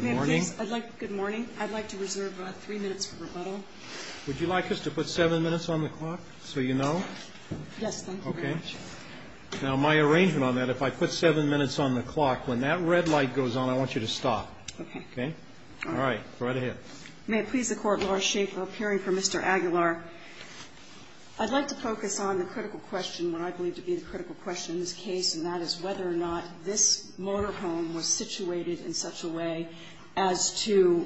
May I please, I'd like, good morning. I'd like to reserve three minutes for rebuttal. Would you like us to put seven minutes on the clock so you know? Yes, thank you very much. Okay. Now my arrangement on that, if I put seven minutes on the clock, when that red light goes on, I want you to stop. Okay. Okay? All right. Go right ahead. May it please the Court, Lars Schaefer, appearing for Mr. Aguilar. I'd like to focus on the critical question, what I believe to be the critical question in this case, and that is whether or not this motorhome was situated in such a way as to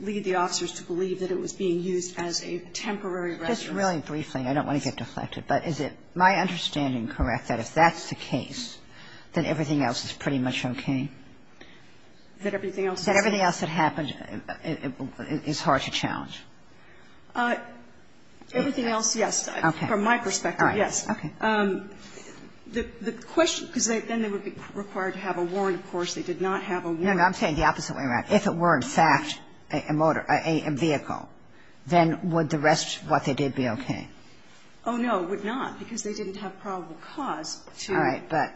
lead the officers to believe that it was being used as a temporary residence. Just really briefly, I don't want to get deflected, but is it my understanding correct that if that's the case, that everything else is pretty much okay? That everything else is okay. That everything else that happened is hard to challenge? Everything else, yes. Okay. From my perspective, yes. All right. Okay. The question, because then they would be required to have a warrant, of course. They did not have a warrant. No, no. I'm saying the opposite way around. If it were in fact a motor or a vehicle, then would the rest of what they did be okay? Oh, no. It would not, because they didn't have probable cause to. All right. But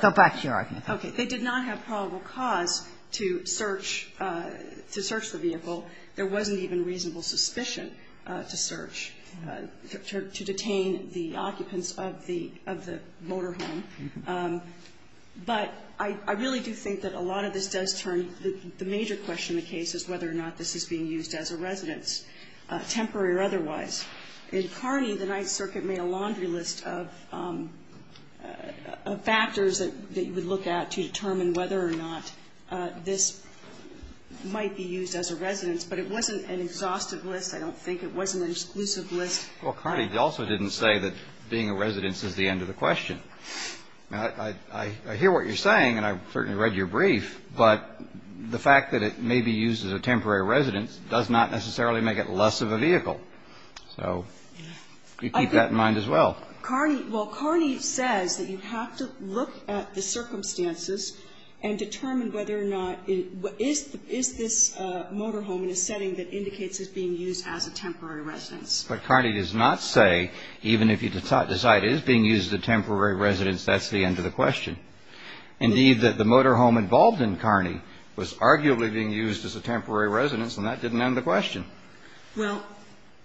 go back to your argument. Okay. They did not have probable cause to search the vehicle. There wasn't even reasonable suspicion to search, to detain the occupants of the motor home. But I really do think that a lot of this does turn the major question of the case is whether or not this is being used as a residence, temporary or otherwise. In Carney, the Ninth Circuit made a laundry list of factors that you would look at to determine whether or not this might be used as a residence. But it wasn't an exhaustive list, I don't think. It wasn't an exclusive list. Well, Carney also didn't say that being a residence is the end of the question. Now, I hear what you're saying, and I've certainly read your brief, but the fact that it may be used as a temporary residence does not necessarily make it less of a vehicle. So you keep that in mind as well. Well, Carney says that you have to look at the circumstances and determine whether or not is this motor home in a setting that indicates it's being used as a temporary residence. But Carney does not say, even if you decide it is being used as a temporary residence, that's the end of the question. Indeed, that the motor home involved in Carney was arguably being used as a temporary residence, and that didn't end the question. Well,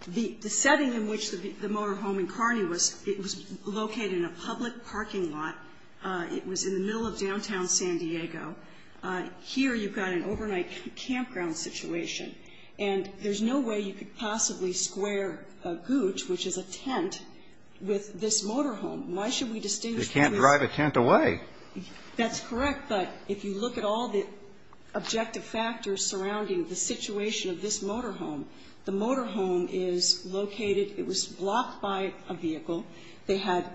the setting in which the motor home in Carney was, it was located in a public parking lot. It was in the middle of downtown San Diego. Here you've got an overnight campground situation. And there's no way you could possibly square a gooch, which is a tent, with this motor home. Why should we distinguish? You can't drive a tent away. That's correct. But if you look at all the objective factors surrounding the situation of this motor home, the motor home is located, it was blocked by a vehicle. They had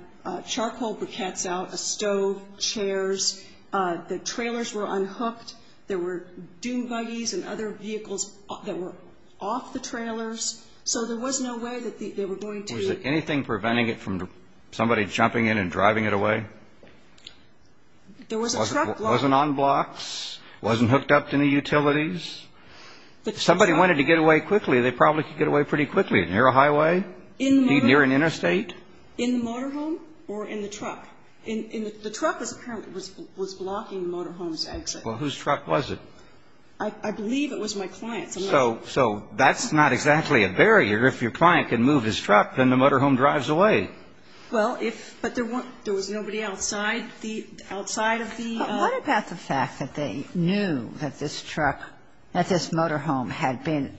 charcoal briquettes out, a stove, chairs. The trailers were unhooked. There were dune buggies and other vehicles that were off the trailers. So there was no way that they were going to be ---- Was there anything preventing it from somebody jumping in and driving it away? There was a truck blocking it. It wasn't on blocks? It wasn't hooked up to any utilities? If somebody wanted to get away quickly, they probably could get away pretty quickly. Near a highway? Near an interstate? In the motor home or in the truck. The truck apparently was blocking the motor home's exit. Well, whose truck was it? I believe it was my client's. So that's not exactly a barrier. If your client can move his truck, then the motor home drives away. Well, if ---- but there was nobody outside the ---- outside of the ---- But what about the fact that they knew that this truck, that this motor home had been ----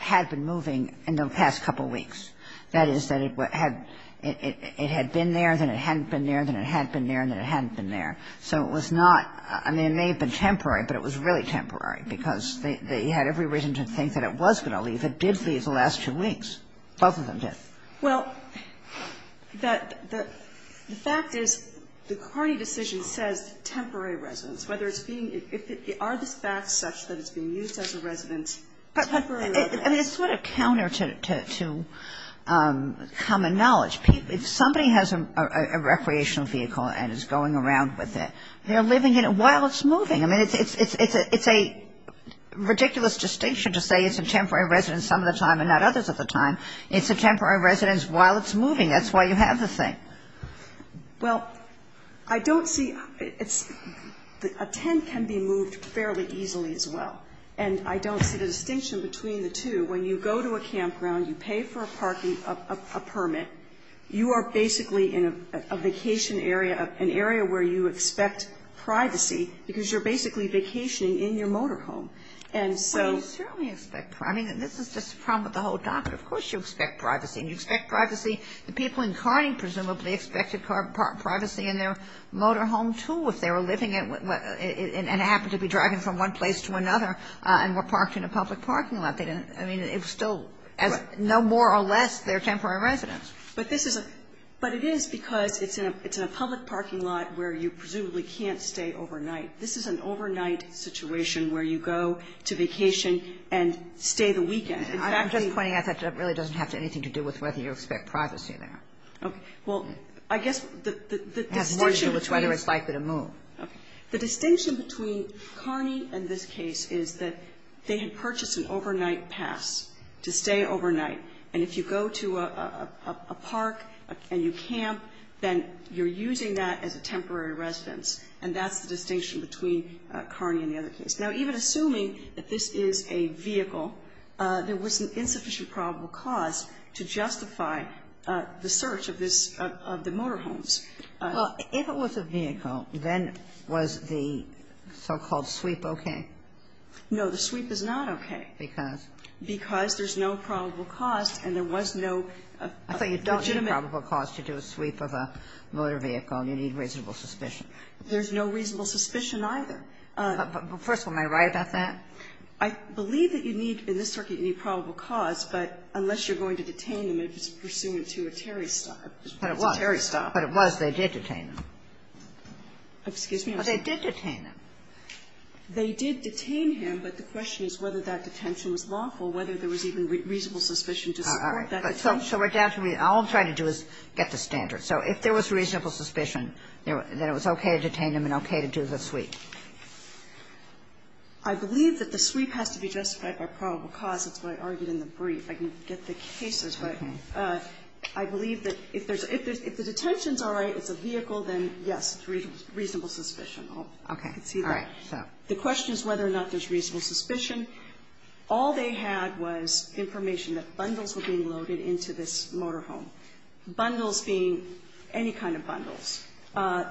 had been moving in the past couple of weeks? That is, that it had been there, then it hadn't been there, then it had been there, and then it hadn't been there. So it was not ---- I mean, it may have been temporary, but it was really temporary because they had every reason to think that it was going to leave. It did leave the last two weeks. Both of them did. Well, the fact is the Carney decision says temporary residence. Whether it's being ---- are the facts such that it's being used as a residence temporarily? I mean, it's sort of counter to common knowledge. If somebody has a recreational vehicle and is going around with it, they're living in it while it's moving. I mean, it's a ridiculous distinction to say it's a temporary residence some of the time and not others of the time. It's a temporary residence while it's moving. That's why you have the thing. Well, I don't see ---- a tent can be moved fairly easily as well. And I don't see the distinction between the two. When you go to a campground, you pay for a parking, a permit, you are basically in a vacation area, an area where you expect privacy because you're basically vacationing in your motor home. And so ---- Well, you certainly expect privacy. I mean, this is just a problem with the whole document. Of course you expect privacy. And you expect privacy. The people in Carney presumably expected privacy in their motor home, too, if they were living in what ---- and happened to be driving from one place to another and were parked in a public parking lot. They didn't ---- I mean, it was still as no more or less their temporary residence. But this is a ---- but it is because it's in a public parking lot where you presumably can't stay overnight. This is an overnight situation where you go to vacation and stay the weekend. In fact, the ---- I'm just pointing out that that really doesn't have anything to do with whether you expect privacy there. Okay. Well, I guess the distinction between ---- It has more to do with whether it's likely to move. Okay. The distinction between Carney and this case is that they had purchased an overnight pass to stay overnight. And if you go to a park and you camp, then you're using that as a temporary residence. And that's the distinction between Carney and the other case. Now, even assuming that this is a vehicle, there was an insufficient probable cause to justify the search of this ---- of the motor homes. Well, if it was a vehicle, then was the so-called sweep okay? No. The sweep is not okay. Because? Because there's no probable cost and there was no legitimate ---- I thought you don't need probable cause to do a sweep of a motor vehicle and you need reasonable suspicion. There's no reasonable suspicion either. First of all, am I right about that? I believe that you need, in this circuit, you need probable cause, but unless you're going to detain him, it's pursuant to a Terry stop. But it was. It's a Terry stop. But it was. They did detain him. Excuse me? They did detain him. They did detain him, but the question is whether that detention was lawful, whether there was even reasonable suspicion to support that detention. So we're down to reason. All I'm trying to do is get the standards. So if there was reasonable suspicion, then it was okay to detain him and okay to do the sweep. I believe that the sweep has to be justified by probable cause. That's what I argued in the brief. I didn't get the cases, but I believe that if there's ---- if the detention's all right, it's a vehicle, then yes, reasonable suspicion. Okay. All right. So the question is whether or not there's reasonable suspicion. All they had was information that bundles were being loaded into this motorhome, bundles being any kind of bundles.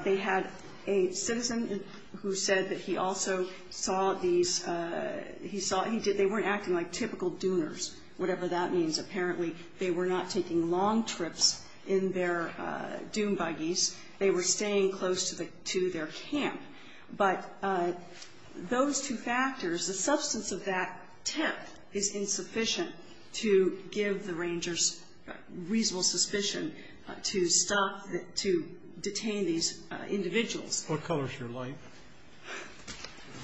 They had a citizen who said that he also saw these ---- he saw ---- he did ---- they weren't acting like typical dooners, whatever that means. Apparently, they were not taking long trips in their dune buggies. They were staying close to their camp. But those two factors, the substance of that temp is insufficient to give the rangers reasonable suspicion to stop the ---- to detain these individuals. What color is your light?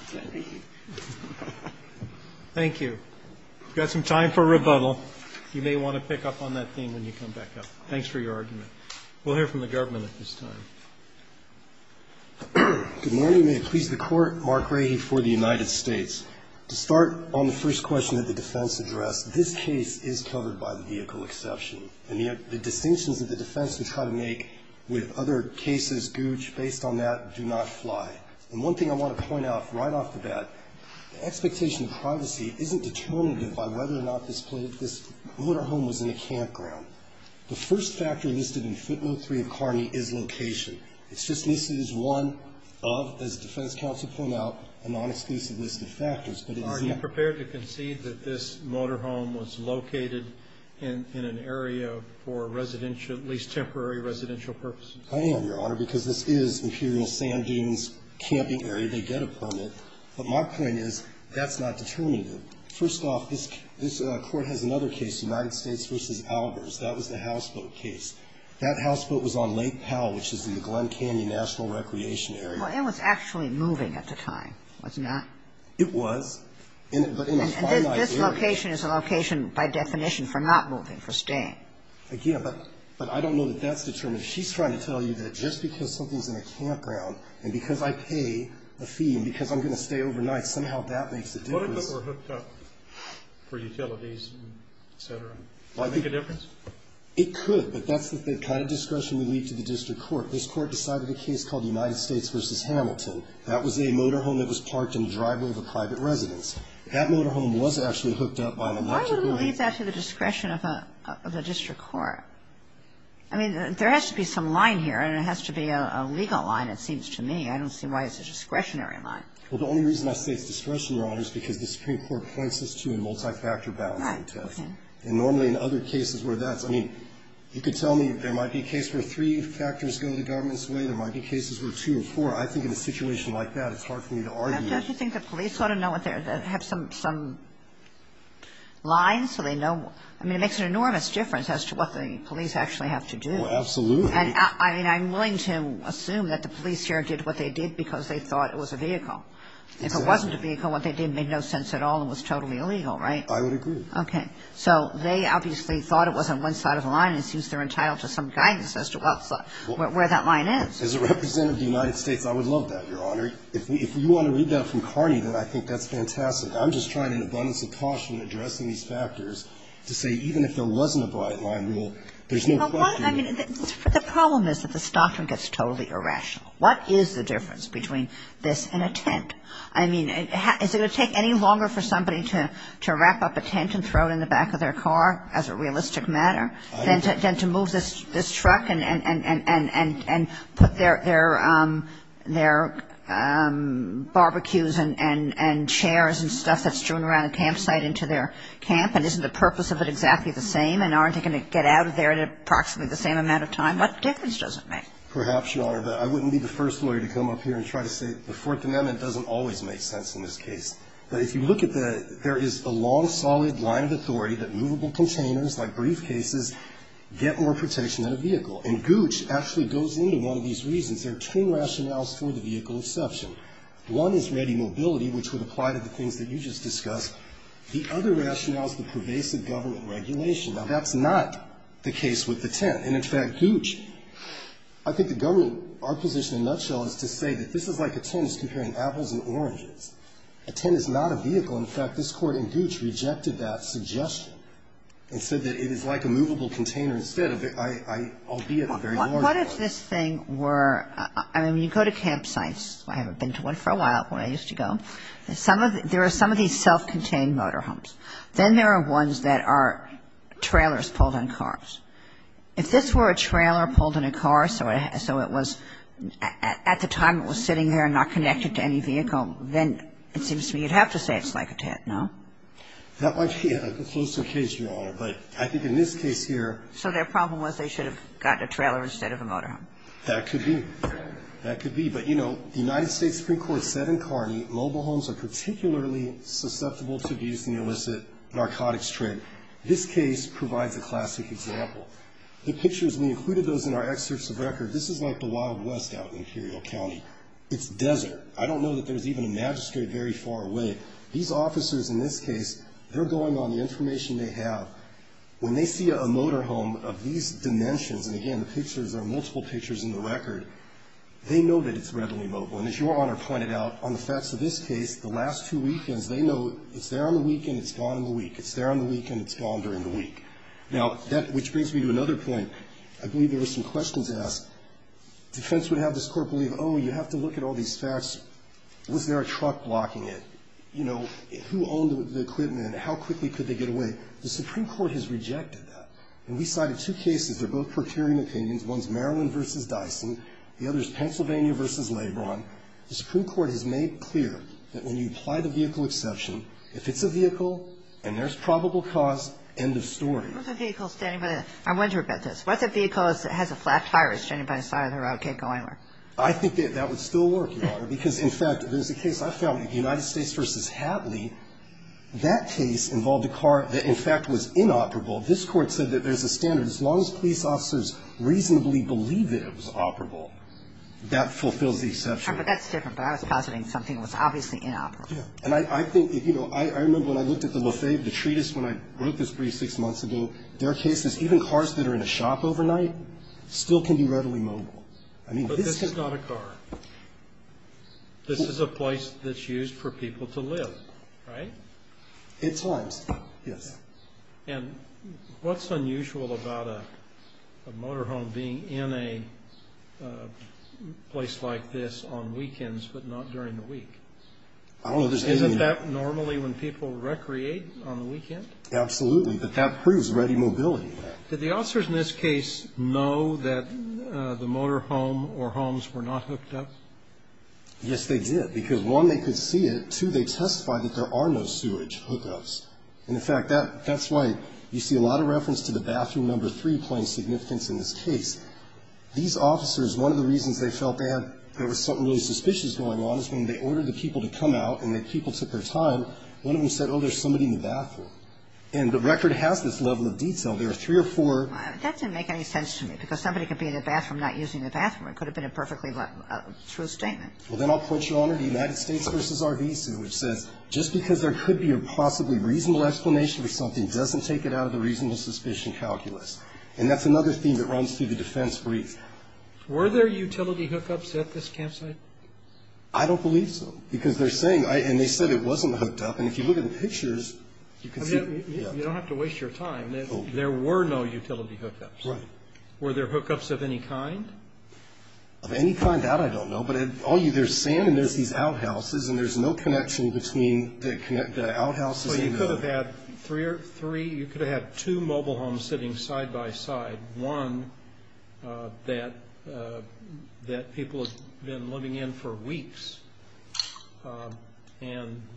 Thank you. Thank you. We've got some time for rebuttal. You may want to pick up on that theme when you come back up. Thanks for your argument. We'll hear from the government at this time. Good morning. May it please the Court. Mark Rahy for the United States. To start on the first question that the defense addressed, this case is covered by the vehicle exception. And the distinctions that the defense would try to make with other cases, Gooch, based on that, do not fly. And one thing I want to point out right off the bat, the expectation of privacy isn't determinative by whether or not this motorhome was in a campground. The first factor listed in footnote 3 of Carney is location. It's just listed as one of, as defense counsel pointed out, a non-exclusive list of factors. But it's not ---- Are you prepared to concede that this motorhome was located in an area for residential ---- at least temporary residential purposes? I am, Your Honor, because this is Imperial Sand Dunes Camping Area. They get a permit. But my point is that's not determinative. First off, this Court has another case, United States v. Albers. That was the houseboat case. That houseboat was on Lake Powell, which is in the Glen Canyon National Recreation Area. Well, it was actually moving at the time, was it not? It was, but in a finite area. And this location is a location by definition for not moving, for staying. Again, but I don't know that that's determinative. She's trying to tell you that just because something's in a campground and because I pay a fee and because I'm going to stay overnight, somehow that makes a difference. What if it were hooked up for utilities, et cetera? Would it make a difference? It could, but that's the kind of discretion we leave to the district court. This Court decided a case called United States v. Hamilton. That was a motorhome that was parked in the driveway of a private residence. That motorhome was actually hooked up by an electrical ---- Why would it leave that to the discretion of a district court? I mean, there has to be some line here, and it has to be a legal line, it seems to me. I don't see why it's a discretionary line. Well, the only reason I say it's discretionary line is because the Supreme Court points this to a multi-factor balancing test. Right. Okay. And normally in other cases where that's ---- I mean, you could tell me there might be a case where three factors go the government's way. There might be cases where two or four. I think in a situation like that, it's hard for me to argue. Don't you think the police ought to know what they're ---- have some lines so they know what ---- I mean, it makes an enormous difference as to what the police actually have to do. Well, absolutely. And, I mean, I'm willing to assume that the police here did what they did because they thought it was a vehicle. Exactly. If it wasn't a vehicle, what they did made no sense at all and was totally illegal, right? I would agree. Okay. So they obviously thought it was on one side of the line. It seems they're entitled to some guidance as to what's the ---- where that line is. As a representative of the United States, I would love that, Your Honor. If you want to read that from Carney, then I think that's fantastic. I'm just trying in abundance of caution in addressing these factors to say even if there wasn't a byline rule, there's no question. Well, why ---- I mean, the problem is that this doctrine gets totally irrational. What is the difference between this and a tent? I mean, is it going to take any longer for somebody to wrap up a tent and throw it in the back of their car as a realistic matter than to move this truck and put their barbecues and chairs and stuff that's strewn around the campsite into their camp? And isn't the purpose of it exactly the same? And aren't they going to get out of there in approximately the same amount of time? What difference does it make? Perhaps, Your Honor, but I wouldn't be the first lawyer to come up here and try to say the Fourth Amendment doesn't always make sense in this case. But if you look at the ---- there is a long, solid line of authority that movable containers, like briefcases, get more protection than a vehicle. And Gooch actually goes into one of these reasons. There are two rationales for the vehicle exception. One is ready mobility, which would apply to the things that you just discussed. The other rationale is the pervasive government regulation. Now, that's not the case with the tent. And, in fact, Gooch ---- I think the government, our position in a nutshell is to say that this is like a tent is comparing apples and oranges. A tent is not a vehicle. In fact, this Court in Gooch rejected that suggestion and said that it is like a movable container instead, albeit a very large one. What if this thing were ---- I mean, you go to campsites. I haven't been to one for a while, but I used to go. There are some of these self-contained motorhomes. Then there are ones that are trailers pulled on cars. If this were a trailer pulled in a car, so it was at the time it was sitting there and not connected to any vehicle, then it seems to me you'd have to say it's like a tent, no? That might be a closer case, Your Honor. But I think in this case here ---- So their problem was they should have gotten a trailer instead of a motorhome. That could be. That could be. But, you know, the United States Supreme Court said in Carney mobile homes are particularly susceptible to abuse in the illicit narcotics trade. This case provides a classic example. The pictures, we included those in our excerpts of record. This is like the Wild West out in Imperial County. It's desert. I don't know that there's even a magistrate very far away. These officers in this case, they're going on the information they have. When they see a motorhome of these dimensions, and again, the pictures are multiple pictures in the record, they know that it's readily mobile. And as Your Honor pointed out, on the facts of this case, the last two weekends, they know it's there on the weekend, it's gone in the week. It's there on the weekend, it's gone during the week. Now, which brings me to another point. I believe there were some questions asked. Defense would have this Court believe, oh, you have to look at all these facts. Was there a truck blocking it? You know, who owned the equipment? How quickly could they get away? The Supreme Court has rejected that. And we cited two cases. They're both precarious opinions. One's Maryland v. Dyson. The other is Pennsylvania v. Lebron. The Supreme Court has made clear that when you apply the vehicle exception, it's a vehicle, and there's probable cause. End of story. What's a vehicle standing by the road? I wonder about this. What's a vehicle that has a flat tire standing by the side of the road, can't go anywhere? I think that that would still work, Your Honor, because, in fact, there's a case I found, United States v. Hadley. That case involved a car that, in fact, was inoperable. This Court said that there's a standard, as long as police officers reasonably believe that it was operable, that fulfills the exception. But that's different. But I was positing something that was obviously inoperable. Yeah. And I think, you know, I remember when I looked at the Lafayette, the treatise, when I wrote this brief six months ago. There are cases, even cars that are in a shop overnight, still can be readily mobile. But this is not a car. This is a place that's used for people to live, right? At times, yes. And what's unusual about a motorhome being in a place like this on weekends, but not during the week? I don't know. Isn't that normally when people recreate on the weekend? Absolutely. But that proves ready mobility. Did the officers in this case know that the motorhome or homes were not hooked up? Yes, they did. Because, one, they could see it. Two, they testified that there are no sewage hookups. And, in fact, that's why you see a lot of reference to the bathroom number three playing significance in this case. These officers, one of the reasons they felt there was something really suspicious going on is when they ordered the people to come out and the people took their time, one of them said, oh, there's somebody in the bathroom. And the record has this level of detail. There are three or four. That didn't make any sense to me. Because somebody could be in the bathroom not using the bathroom. It could have been a perfectly true statement. Well, then I'll put you on to the United States v. RV suit, which says, just because there could be a possibly reasonable explanation for something doesn't take it out of the reasonable suspicion calculus. And that's another theme that runs through the defense brief. Were there utility hookups at this campsite? I don't believe so. Because they're saying – and they said it wasn't hooked up. And if you look at the pictures, you can see – You don't have to waste your time. There were no utility hookups. Right. Were there hookups of any kind? Of any kind, that I don't know. But there's sand and there's these outhouses, and there's no connection between the outhouses and the – So you could have had three – you could have had two mobile homes sitting side by side. One that people have been living in for weeks.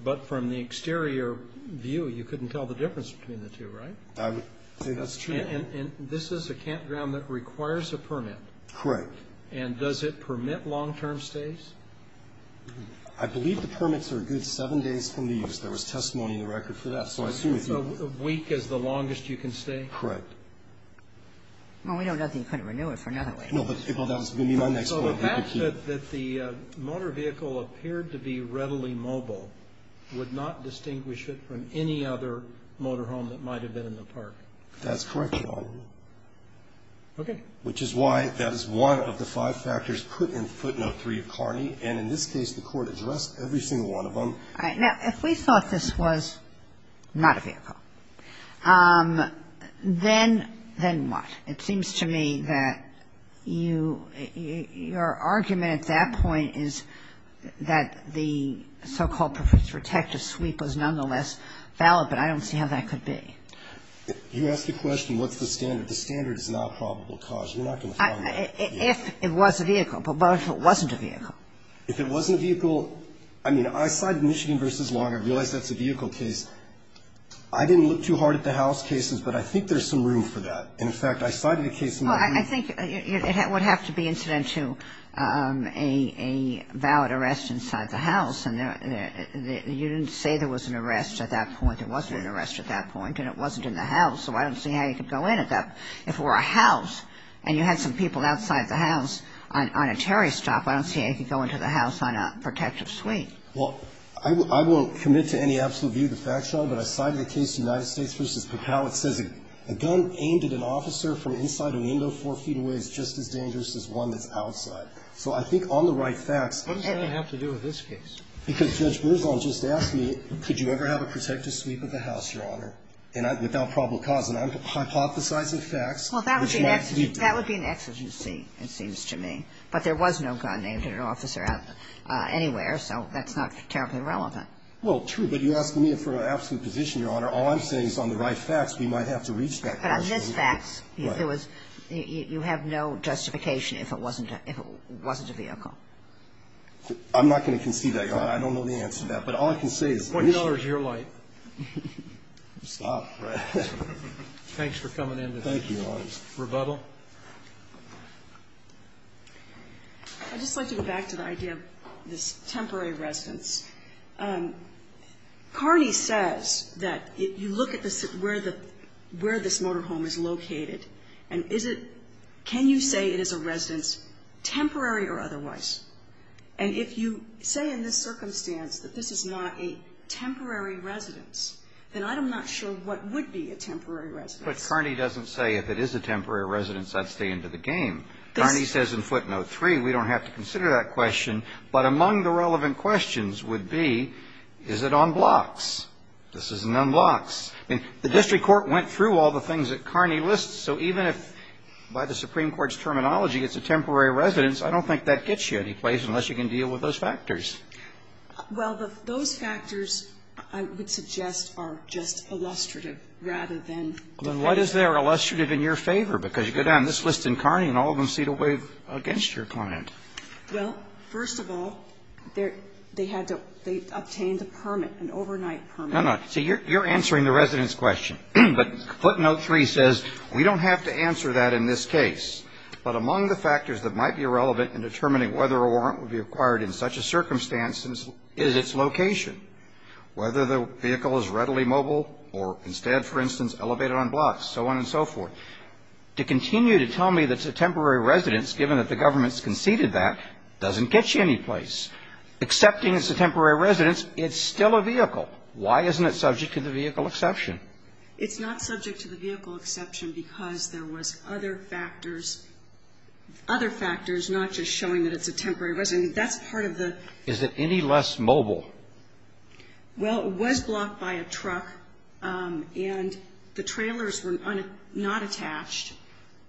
But from the exterior view, you couldn't tell the difference between the two, right? I would say that's true. And this is a campground that requires a permit. Correct. And does it permit long-term stays? I believe the permits are a good seven days from the use. There was testimony in the record for that. So a week is the longest you can stay? Correct. Well, we don't know that you couldn't renew it for another week. No, but that's going to be my next point. So the fact that the motor vehicle appeared to be readily mobile would not distinguish it from any other motor home that might have been in the park? That's correct, Your Honor. Okay. Which is why that is one of the five factors put in footnote 3 of Carney. And in this case, the Court addressed every single one of them. All right. Now, if we thought this was not a vehicle, then what? It seems to me that you – your argument at that point is that the so-called protective sweep was nonetheless valid, but I don't see how that could be. You asked the question what's the standard. The standard is not probable cause. You're not going to find that. If it was a vehicle, but what if it wasn't a vehicle? If it wasn't a vehicle, I mean, I cited Michigan v. Long. I realize that's a vehicle case. I didn't look too hard at the house cases, but I think there's some room for that. And, in fact, I cited a case in my view. Well, I think it would have to be incident to a valid arrest inside the house, and you didn't say there was an arrest at that point. It wasn't an arrest at that point, and it wasn't in the house, so I don't see how you could go in at that. If it were a house and you had some people outside the house on a Terry stop, I don't see how you could go into the house on a protective sweep. Well, I won't commit to any absolute view of the fact, Your Honor, but I cited a case, United States v. Papal. It says a gun aimed at an officer from inside a window four feet away is just as dangerous as one that's outside. So I think on the right facts and the right facts. What does that have to do with this case? Because Judge Berzal just asked me, could you ever have a protective sweep of the house, Your Honor, without probable cause? And I'm hypothesizing facts. Well, that would be an exigency, it seems to me. But there was no gun aimed at an officer anywhere, so that's not terribly relevant. Well, true. But you're asking me for an absolute position, Your Honor. All I'm saying is on the right facts, we might have to reach that conclusion. But on this facts, you have no justification if it wasn't a vehicle. I'm not going to concede that, Your Honor. I don't know the answer to that. But all I can say is the reason. $20 is your light. Stop. Thanks for coming into this rebuttal. Thank you, Your Honor. Ms. Rebuttal. I'd just like to go back to the idea of this temporary residence. Carney says that if you look at where this motorhome is located, and is it – can you say it is a residence, temporary or otherwise? And if you say in this circumstance that this is not a temporary residence, then I'm not sure what would be a temporary residence. That's what Carney doesn't say. If it is a temporary residence, that's the end of the game. Carney says in footnote 3, we don't have to consider that question. But among the relevant questions would be, is it on blocks? This isn't on blocks. I mean, the district court went through all the things that Carney lists. So even if, by the Supreme Court's terminology, it's a temporary residence, I don't think that gets you anyplace unless you can deal with those factors. Well, those factors, I would suggest, are just illustrative rather than definitive. Well, then what is there illustrative in your favor? Because you go down this list in Carney and all of them seem to wave against your client. Well, first of all, they had to – they obtained a permit, an overnight permit. No, no. See, you're answering the residence question. But footnote 3 says, we don't have to answer that in this case. But among the factors that might be relevant in determining whether a warrant would be acquired in such a circumstance is its location. Whether the vehicle is readily mobile or instead, for instance, elevated on blocks, so on and so forth. To continue to tell me that it's a temporary residence, given that the government has conceded that, doesn't get you anyplace. Accepting it's a temporary residence, it's still a vehicle. Why isn't it subject to the vehicle exception? It's not subject to the vehicle exception because there was other factors, other Is it any less mobile? Well, it was blocked by a truck and the trailers were not attached.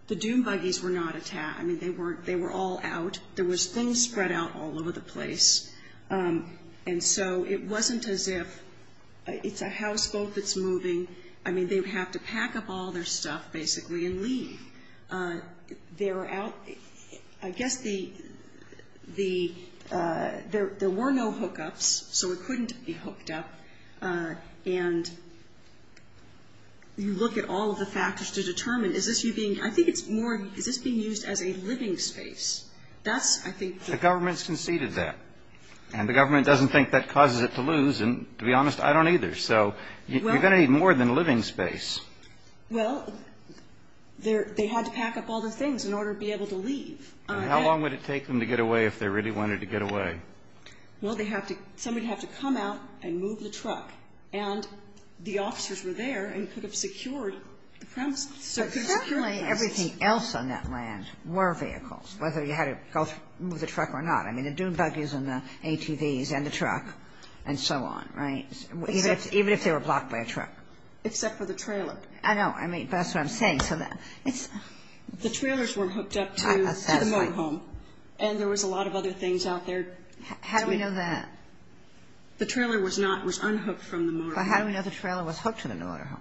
The dune buggies were not attached. I mean, they were all out. There was things spread out all over the place. And so it wasn't as if it's a houseboat that's moving. I mean, they would have to pack up all their stuff, basically, and leave. They were out. I guess there were no hookups, so it couldn't be hooked up. And you look at all of the factors to determine, is this being used as a living space? The government's conceded that. And the government doesn't think that causes it to lose. And to be honest, I don't either. So you're going to need more than a living space. Well, they had to pack up all the things in order to be able to leave. And how long would it take them to get away if they really wanted to get away? Well, somebody would have to come out and move the truck. And the officers were there and could have secured the premises. But apparently everything else on that land were vehicles, whether you had to move the truck or not. I mean, the dune buggies and the ATVs and the truck and so on, right, even if they were blocked by a truck. Except for the trailer. I know. I mean, that's what I'm saying. The trailers were hooked up to the motorhome. And there was a lot of other things out there. How do we know that? The trailer was not unhooked from the motorhome. But how do we know the trailer was hooked to the motorhome?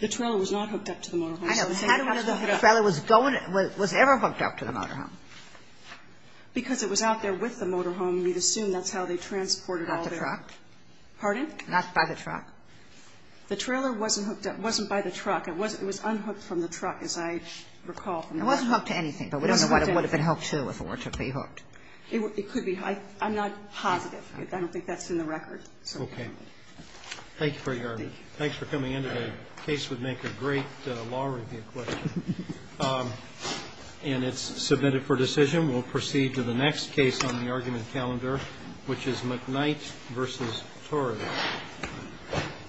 The trailer was not hooked up to the motorhome. I know. But how do we know the trailer was ever hooked up to the motorhome? Because it was out there with the motorhome. We'd assume that's how they transported all their stuff. Not the truck. Pardon? Not by the truck. The trailer wasn't hooked up. It wasn't by the truck. It was unhooked from the truck, as I recall. It wasn't hooked to anything. But we don't know what it would have been hooked to if it were to be hooked. It could be. I'm not positive. I don't think that's in the record. Okay. Thank you for your argument. Thanks for coming in today. The case would make a great law review question. And it's submitted for decision. We'll proceed to the next case on the argument calendar, which is McKnight v. Torres.